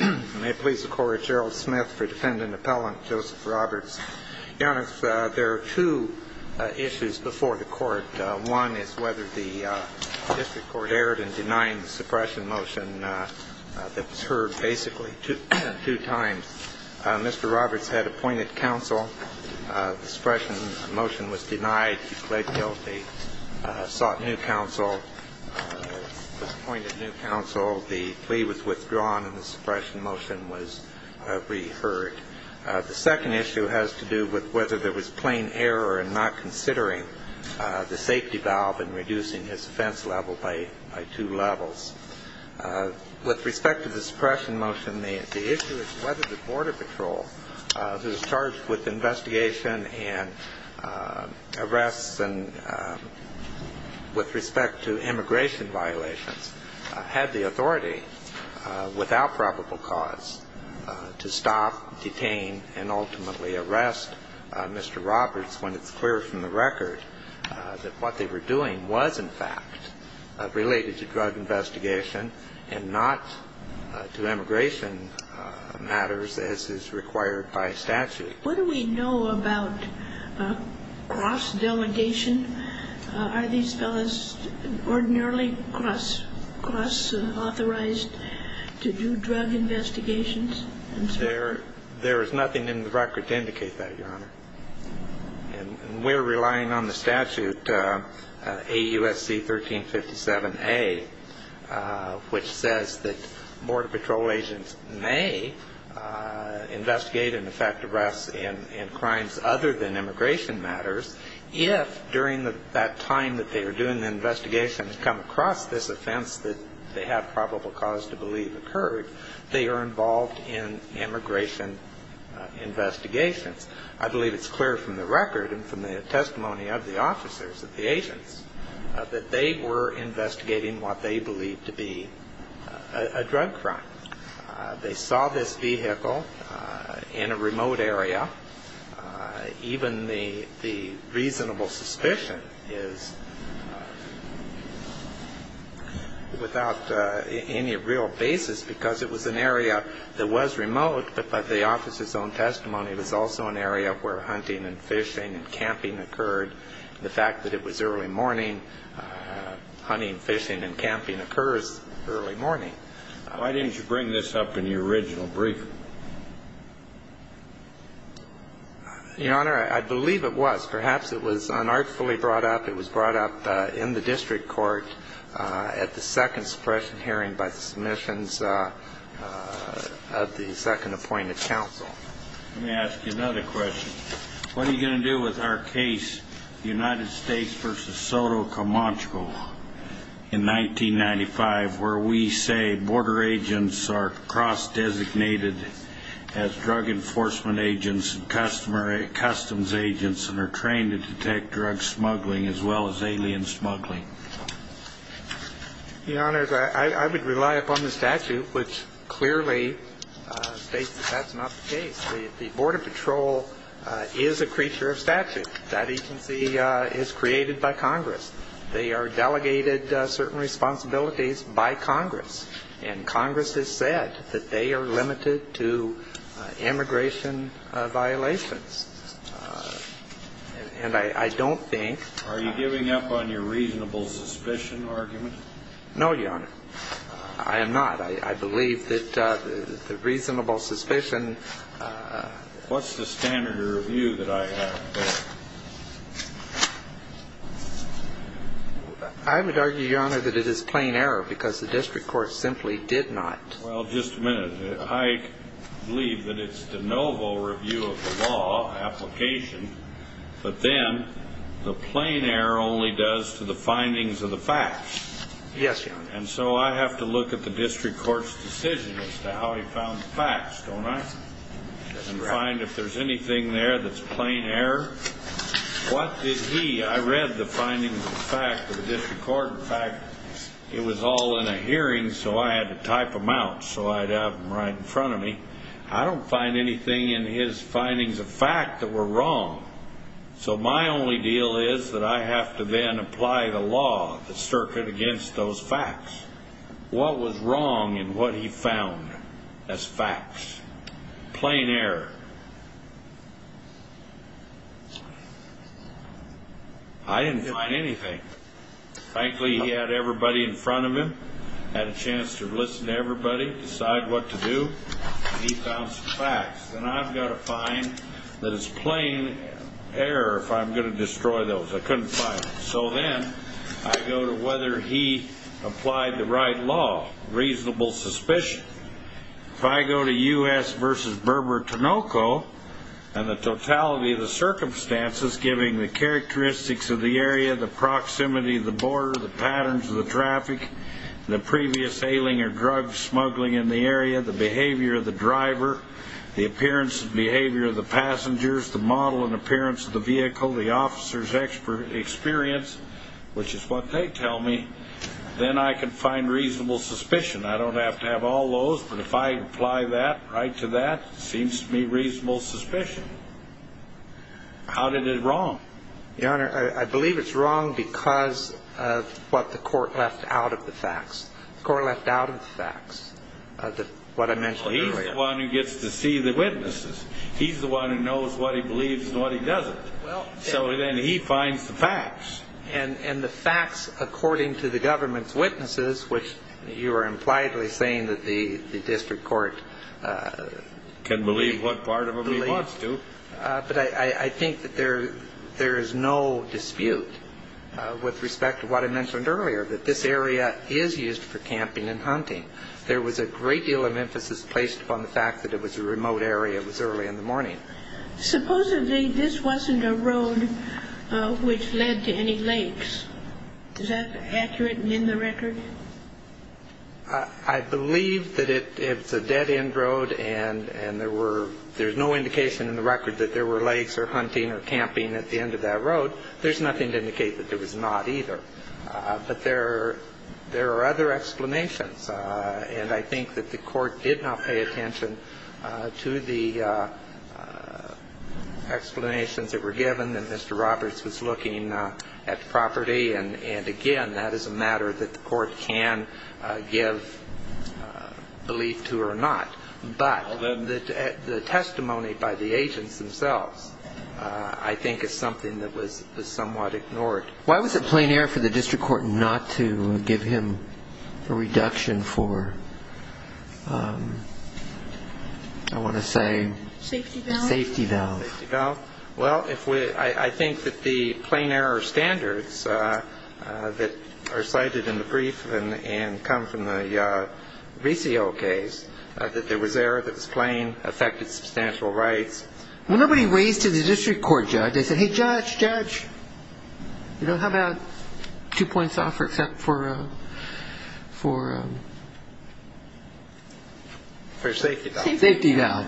May it please the Court, it's Gerald Smith for Defendant Appellant Joseph Roberts. Your Honor, there are two issues before the Court. One is whether the district court erred in denying the suppression motion that was heard basically two times. Mr. Roberts had appointed counsel. The suppression motion was denied. He pled guilty, sought new counsel, was appointed new counsel. The plea was withdrawn and the suppression motion was re-heard. The second issue has to do with whether there was plain error in not considering the safety valve and reducing his offense level by two levels. With respect to the suppression motion, the issue is whether the Border Patrol, who's charged with investigation and arrests and with respect to immigration violations, had the authority, without probable cause, to stop, detain, and ultimately arrest Mr. Roberts when it's clear from the record that what they were doing was, in fact, related to drug investigation and not to immigration matters as is required by statute. What do we know about cross-delegation? Are these fellows ordinarily cross-authorized to do drug investigations? There is nothing in the record to indicate that, Your Honor. And we're relying on the statute, AUSC 1357A, which says that Border Patrol agents may investigate and, in fact, arrest in crimes other than immigration matters if, during that time that they are doing the investigation and come across this offense that they have probable cause to believe occurred, they are involved in immigration investigations. I believe it's clear from the record and from the testimony of the officers, of the agents, that they were investigating what they believed to be a drug crime. They saw this vehicle in a remote area. Even the reasonable suspicion is without any real basis because it was an area that was remote, but by the officers' own testimony, it was also an area where hunting and fishing and camping occurred. The fact that it was early morning, hunting, fishing, and camping occurs early morning. Why didn't you bring this up in your original briefing? Your Honor, I believe it was. Perhaps it was unartfully brought up. It was brought up in the district court at the second suppression hearing by the submissions of the second appointed counsel. Let me ask you another question. What are you going to do with our case, United States v. Soto Comancho, in 1995, where we say border agents are cross-designated as drug enforcement agents and customs agents and are trained to detect drug smuggling as well as alien smuggling? Your Honor, I would rely upon the statute, which clearly states that that's not the case. The Border Patrol is a creature of statute. That agency is created by Congress. They are delegated certain responsibilities by Congress, and Congress has said that they are limited to immigration violations. And I don't think... Are you giving up on your reasonable suspicion argument? No, Your Honor, I am not. I believe that the reasonable suspicion... What's the standard of review that I have? I would argue, Your Honor, that it is plain error because the district court simply did not. Well, just a minute. I believe that it's de novo review of the law, application, but then the plain error only does to the findings of the facts. Yes, Your Honor. And so I have to look at the district court's decision as to how he found the facts, don't I, and find if there's anything there that's plain error. What did he... I read the findings of the facts of the district court. In fact, it was all in a hearing, so I had to type them out so I'd have them right in front of me. I don't find anything in his findings of fact that were wrong. So my only deal is that I have to then apply the law of the circuit against those facts. What was wrong in what he found as facts? Plain error. I didn't find anything. Frankly, he had everybody in front of him, had a chance to listen to everybody, decide what to do, and he found some facts. Then I've got to find that it's plain error if I'm going to destroy those. I couldn't find it. So then I go to whether he applied the right law, reasonable suspicion. If I go to U.S. v. Burber-Tonoco and the totality of the circumstances, giving the characteristics of the area, the proximity of the border, the patterns of the traffic, the previous ailing or drug smuggling in the area, the behavior of the driver, the appearance and behavior of the passengers, the model and appearance of the vehicle, the officer's experience, which is what they tell me, then I can find reasonable suspicion. I don't have to have all those, but if I apply that right to that, it seems to me reasonable suspicion. How did it wrong? Your Honor, I believe it's wrong because of what the court left out of the facts. The court left out of the facts, what I mentioned earlier. Well, he's the one who gets to see the witnesses. He's the one who knows what he believes and what he doesn't. So then he finds the facts. And the facts according to the government's witnesses, which you are impliedly saying that the district court can believe what part of them he wants to. But I think that there is no dispute with respect to what I mentioned earlier, that this area is used for camping and hunting. There was a great deal of emphasis placed upon the fact that it was a remote area. It was early in the morning. Supposedly, this wasn't a road which led to any lakes. Is that accurate and in the record? I believe that it's a dead-end road and there's no indication in the record that there were lakes or hunting or camping at the end of that road. There's nothing to indicate that there was not either. But there are other explanations, and I think that the court did not pay attention to the explanations that were given, that Mr. Roberts was looking at the property and, again, that is a matter that the court can give belief to or not. But the testimony by the agents themselves, I think, is something that was somewhat ignored. Why was it plain error for the district court not to give him a reduction for, I want to say, safety valve? Well, I think that the plain error standards that are cited in the brief and come from the VCO case, that there was error that was plain, affected substantial rights. When nobody raised to the district court judge, they said, hey, judge, judge, how about two points off for safety valve?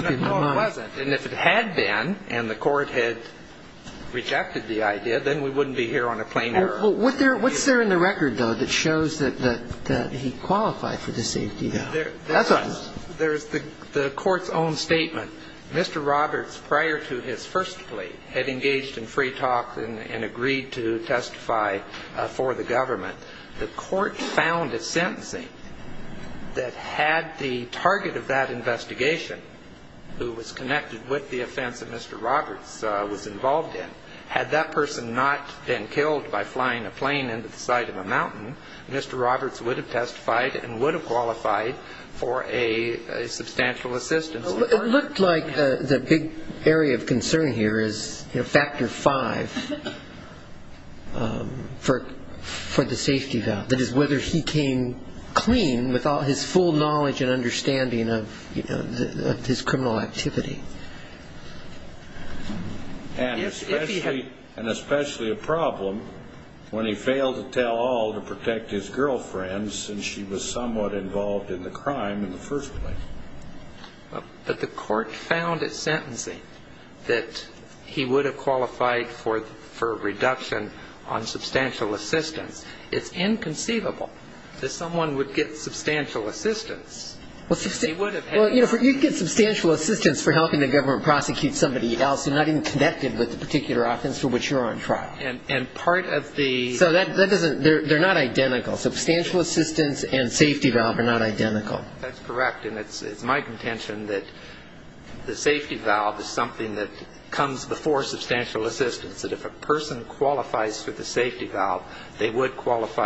No, it wasn't. And if it had been and the court had rejected the idea, then we wouldn't be here on a plain error. What's there in the record, though, that shows that he qualified for the safety valve? That's all I know. There's the court's own statement. Mr. Roberts, prior to his first plea, had engaged in free talk and agreed to testify for the government. The court found a sentencing that had the target of that investigation, who was connected with the offense that Mr. Roberts was involved in. Had that person not been killed by flying a plane into the side of a mountain, Mr. Roberts would have testified and would have qualified for a substantial assistance. It looked like the big area of concern here is factor five for the safety valve, that is whether he came clean with his full knowledge and understanding of his criminal activity. And especially a problem when he failed to tell all to protect his girlfriend since she was somewhat involved in the crime in the first place. But the court found at sentencing that he would have qualified for a reduction on substantial assistance. It's inconceivable that someone would get substantial assistance. Well, you'd get substantial assistance for helping the government prosecute somebody else who's not even connected with the particular offense for which you're on trial. So they're not identical. Substantial assistance and safety valve are not identical. That's correct. And it's my contention that the safety valve is something that comes before substantial assistance, that if a person qualifies for the safety valve, they would strike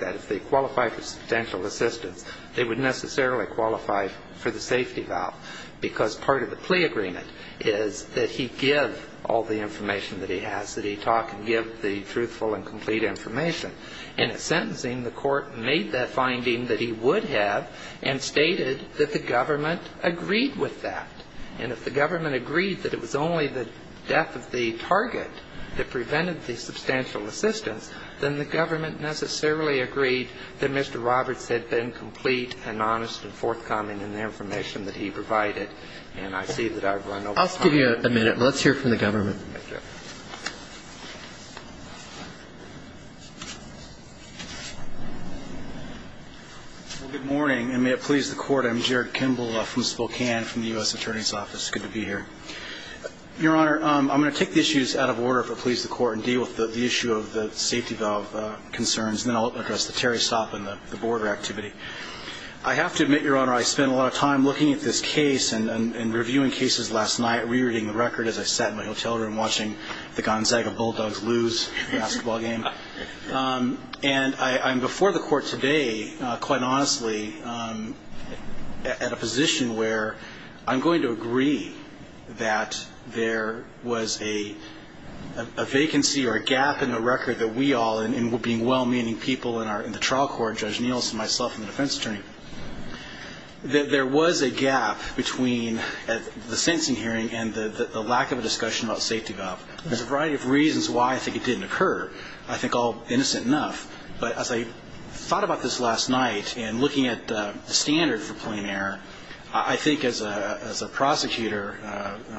that. If they qualify for substantial assistance, they would necessarily qualify for the safety valve because part of the plea agreement is that he give all the information that he has, that he talk and give the truthful and complete information. And at sentencing, the court made that finding that he would have and stated that the government agreed with that. And if the government agreed that it was only the death of the target that prevented the substantial assistance, then the government necessarily agreed that Mr. Roberts had been complete and honest in forthcoming in the information that he provided. And I see that I've run over time. I'll give you a minute. Let's hear from the government. Thank you. Well, good morning, and may it please the Court. I'm Jared Kimball from Spokane, from the U.S. Attorney's Office. Good to be here. Your Honor, I'm going to take the issues out of order, if it pleases the Court, and deal with the issue of the safety valve concerns, and then I'll address the Terry Stopp and the border activity. I have to admit, Your Honor, I spent a lot of time looking at this case and reviewing cases last night, re-reading the record as I sat in my hotel room watching the Gonzaga Bulldogs lose the basketball game. And I'm before the Court today, quite honestly, at a position where I'm going to agree that there was a vacancy or a gap in the record that we all, and being well-meaning people in the trial court, Judge Nielsen, myself, and the defense attorney, that there was a gap between the sentencing hearing and the lack of a discussion about safety valve. There's a variety of reasons why I think it didn't occur. I think all innocent enough, but as I thought about this last night and looking at the standard for plain error, I think as a prosecutor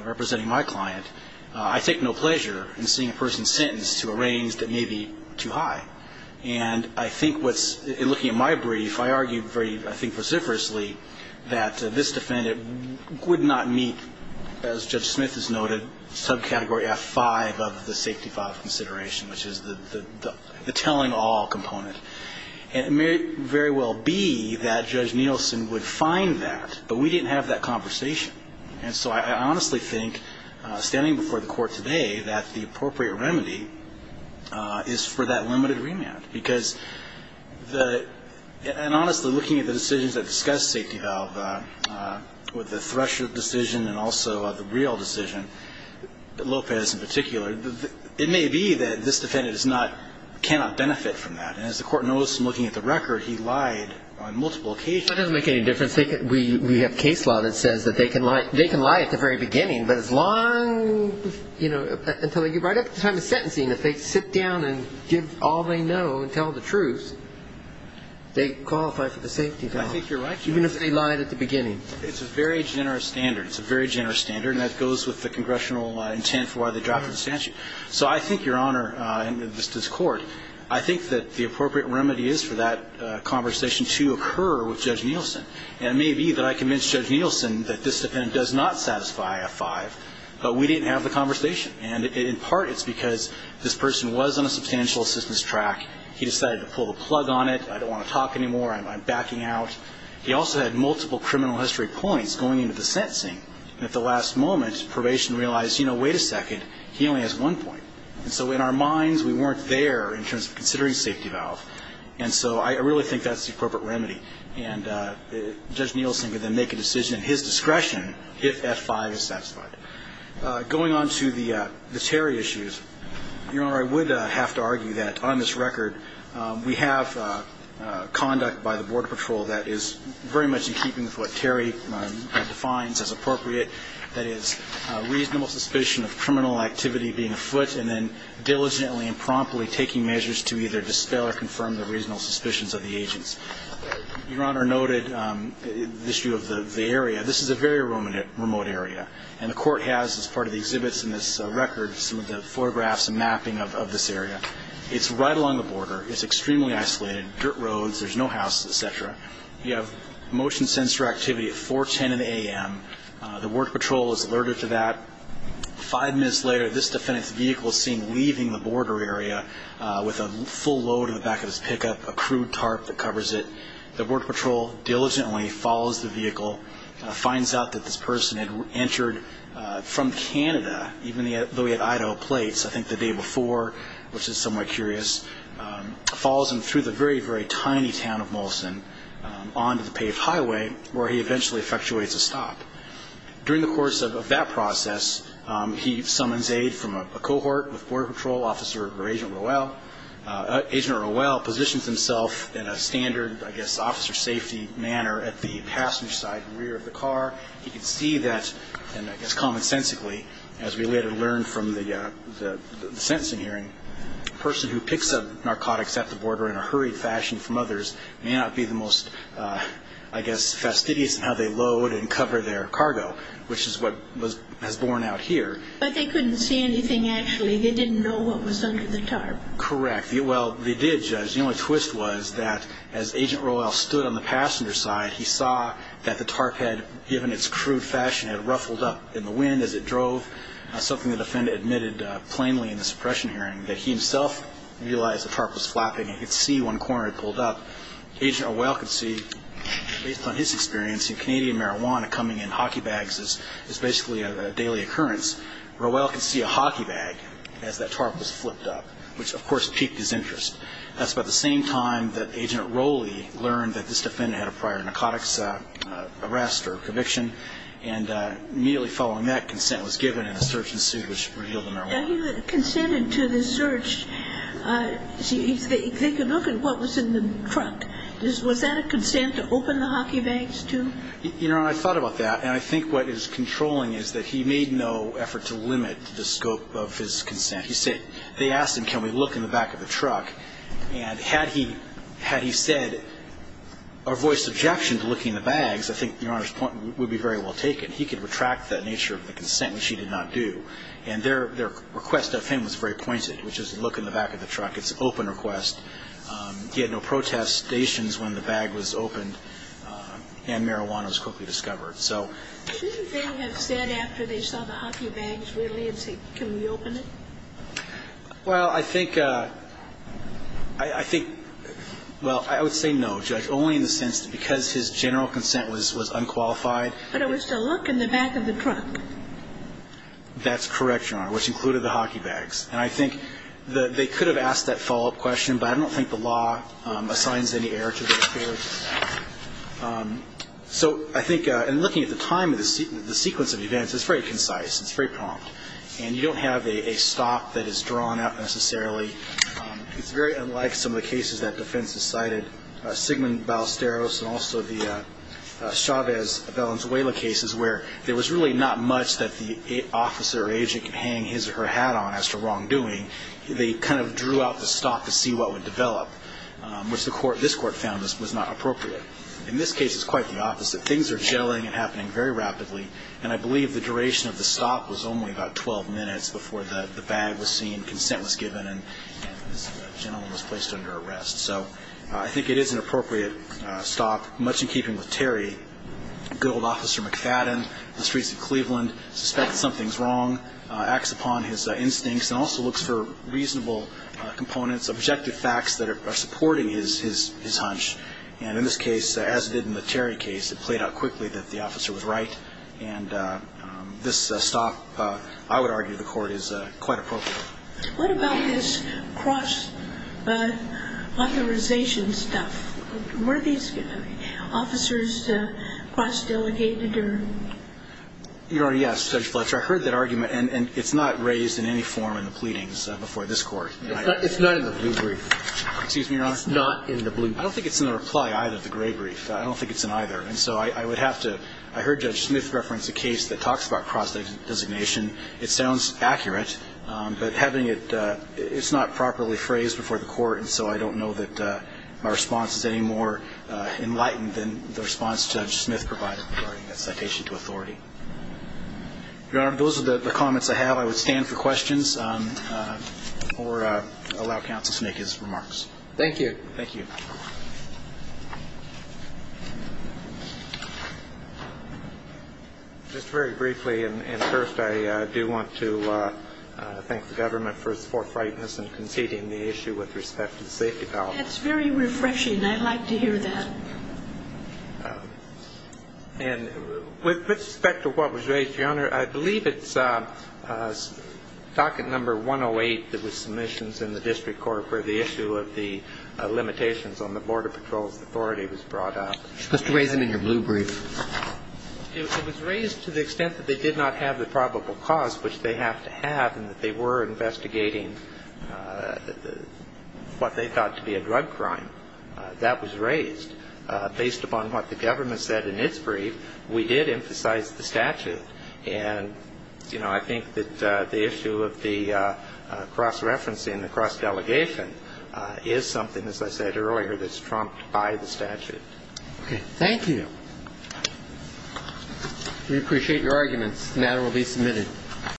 representing my client, I take no pleasure in seeing a person sentenced to a range that may be too high. And I think what's, looking at my brief, I argued very, I think, vociferously, that this defendant would not meet, as Judge Smith has noted, subcategory F5 of the safety valve consideration, which is the telling all component. And it may very well be that Judge Nielsen would find that, but we didn't have that conversation. And so I honestly think, standing before the Court today, that the appropriate remedy is for that limited remand. Because the, and honestly, looking at the decisions that discuss safety valve, with the Thresher decision and also the real decision, Lopez in particular, it may be that this defendant is not, cannot benefit from that. And as the Court noticed in looking at the record, he lied on multiple occasions. That doesn't make any difference. We have case law that says that they can lie at the very beginning, but as long, you know, until they get right up to the time of sentencing, if they sit down and give all they know and tell the truth, they qualify for the safety valve. I think you're right, Judge. Even if they lied at the beginning. It's a very generous standard. It's a very generous standard, and that goes with the congressional intent for why they dropped the statute. So I think, Your Honor, and this is court, I think that the appropriate remedy is for that conversation to occur with Judge Nielsen. And it may be that I convinced Judge Nielsen that this defendant does not satisfy F-5, but we didn't have the conversation. And in part, it's because this person was on a substantial assistance track. He decided to pull the plug on it. I don't want to talk anymore. I'm backing out. He also had multiple criminal history points going into the sentencing. And at the last moment, probation realized, you know, wait a second, he only has one point. And so in our minds, we weren't there in terms of considering safety valve. And so I really think that's the appropriate remedy. And Judge Nielsen could then make a decision at his discretion if F-5 is satisfied. Going on to the Terry issues, Your Honor, I would have to argue that on this record, we have conduct by the Border Patrol that is very much in keeping with what Terry defines as appropriate, that is, reasonable suspicion of criminal activity being afoot and then diligently and promptly taking measures to either dispel or confirm the reasonable suspicions of the agents. Your Honor noted the issue of the area. This is a very remote area. And the Court has, as part of the exhibits in this record, some of the photographs and mapping of this area. It's right along the border. It's extremely isolated. Dirt roads. There's no houses, et cetera. You have motion sensor activity at 410 in the a.m. The Border Patrol is alerted to that. Five minutes later, this defendant's vehicle is seen leaving the border area with a full load in the back of his pickup, a crude tarp that covers it. The Border Patrol diligently follows the vehicle, finds out that this person had entered from Canada, even though he had Idaho plates, I think the day before, which is somewhat curious, follows him through the very, very tiny town of Molson onto the paved highway where he eventually effectuates a stop. During the course of that process, he summons aid from a cohort with Border Patrol Officer or Agent Rowell. Agent Rowell positions himself in a standard, I guess, officer safety manner at the passenger side rear of the car. He can see that, and I guess commonsensically, as we later learn from the sentencing hearing, the person who picks up narcotics at the border in a hurried fashion from others may not be the most, I guess, fastidious in how they load and cover their cargo, which is what has borne out here. But they couldn't see anything, actually. They didn't know what was under the tarp. Correct. Well, they did, Judge. The only twist was that as Agent Rowell stood on the passenger side, he saw that the tarp had, given its crude fashion, had ruffled up in the wind as it drove, something the defendant admitted plainly in the suppression hearing, that he himself realized the tarp was flapping. He could see one corner had pulled up. Agent Rowell could see, based on his experience in Canadian marijuana coming in hockey bags as basically a daily occurrence, Rowell could see a hockey bag as that tarp was flipped up, which, of course, piqued his interest. That's about the same time that Agent Rowley learned that this defendant had a prior narcotics arrest or conviction, and immediately following that, consent was given, and a search ensued, which revealed the marijuana. Now, he consented to the search. They could look at what was in the truck. Was that a consent to open the hockey bags, too? Your Honor, I thought about that, and I think what is controlling is that he made no effort to limit the scope of his consent. He said they asked him, can we look in the back of the truck? And had he said or voiced objection to looking in the bags, I think Your Honor's point would be very well taken. He could retract that nature of the consent, which he did not do. And their request of him was very pointed, which is look in the back of the truck. It's an open request. He had no protestations when the bag was opened, and marijuana was quickly discovered. Shouldn't they have said after they saw the hockey bags, really, and said, can we open it? Well, I think, I think, well, I would say no, Judge, only in the sense that because his general consent was unqualified. But it was to look in the back of the truck. That's correct, Your Honor, which included the hockey bags. And I think they could have asked that follow-up question, but I don't think the law assigns any error to those cases. So I think in looking at the time of the sequence of events, it's very concise. It's very prompt. And you don't have a stop that is drawn out necessarily. It's very unlike some of the cases that defense has cited, Sigmund Ballesteros and also the Chavez-Valenzuela cases, where there was really not much that the officer or agent could hang his or her hat on as to wrongdoing. They kind of drew out the stop to see what would develop, which this Court found was not appropriate. In this case, it's quite the opposite. Things are gelling and happening very rapidly, and I believe the duration of the stop was only about 12 minutes before the bag was seen, consent was given, and this gentleman was placed under arrest. So I think it is an appropriate stop, much in keeping with Terry. A good old Officer McFadden in the streets of Cleveland suspects something's wrong, acts upon his instincts, and also looks for reasonable components, objective facts that are supporting his hunch. And in this case, as it did in the Terry case, it played out quickly that the officer was right. And this stop, I would argue, the Court is quite appropriate. What about this cross-authorization stuff? Were these officers cross-delegated or? Your Honor, yes, Judge Fletcher. I heard that argument, and it's not raised in any form in the pleadings before this Court. It's not in the blue brief. Excuse me, Your Honor? It's not in the blue brief. I don't think it's in the reply either, the gray brief. I don't think it's in either. And so I would have to – I heard Judge Smith reference a case that talks about cross-designation. It sounds accurate, but having it – it's not properly phrased before the Court, and so I don't know that my response is any more enlightened than the response Judge Smith provided regarding that citation to authority. Your Honor, those are the comments I have. I would stand for questions or allow counsel to make his remarks. Thank you. Thank you. Just very briefly, and first I do want to thank the government for its forthrightness in conceding the issue with respect to the safety policy. That's very refreshing. I like to hear that. And with respect to what was raised, Your Honor, I believe it's docket number 108 that was submissions in the district court where the issue of the limitations on the Border Patrol's authority was brought up. It's supposed to raise them in your blue brief. It was raised to the extent that they did not have the probable cause, which they have to have, and that they were investigating what they thought to be a drug crime. That was raised. Based upon what the government said in its brief, we did emphasize the statute. And, you know, I think that the issue of the cross-referencing, the cross-delegation, is something, as I said earlier, that's trumped by the statute. Okay. Thank you. We appreciate your arguments. The matter will be submitted.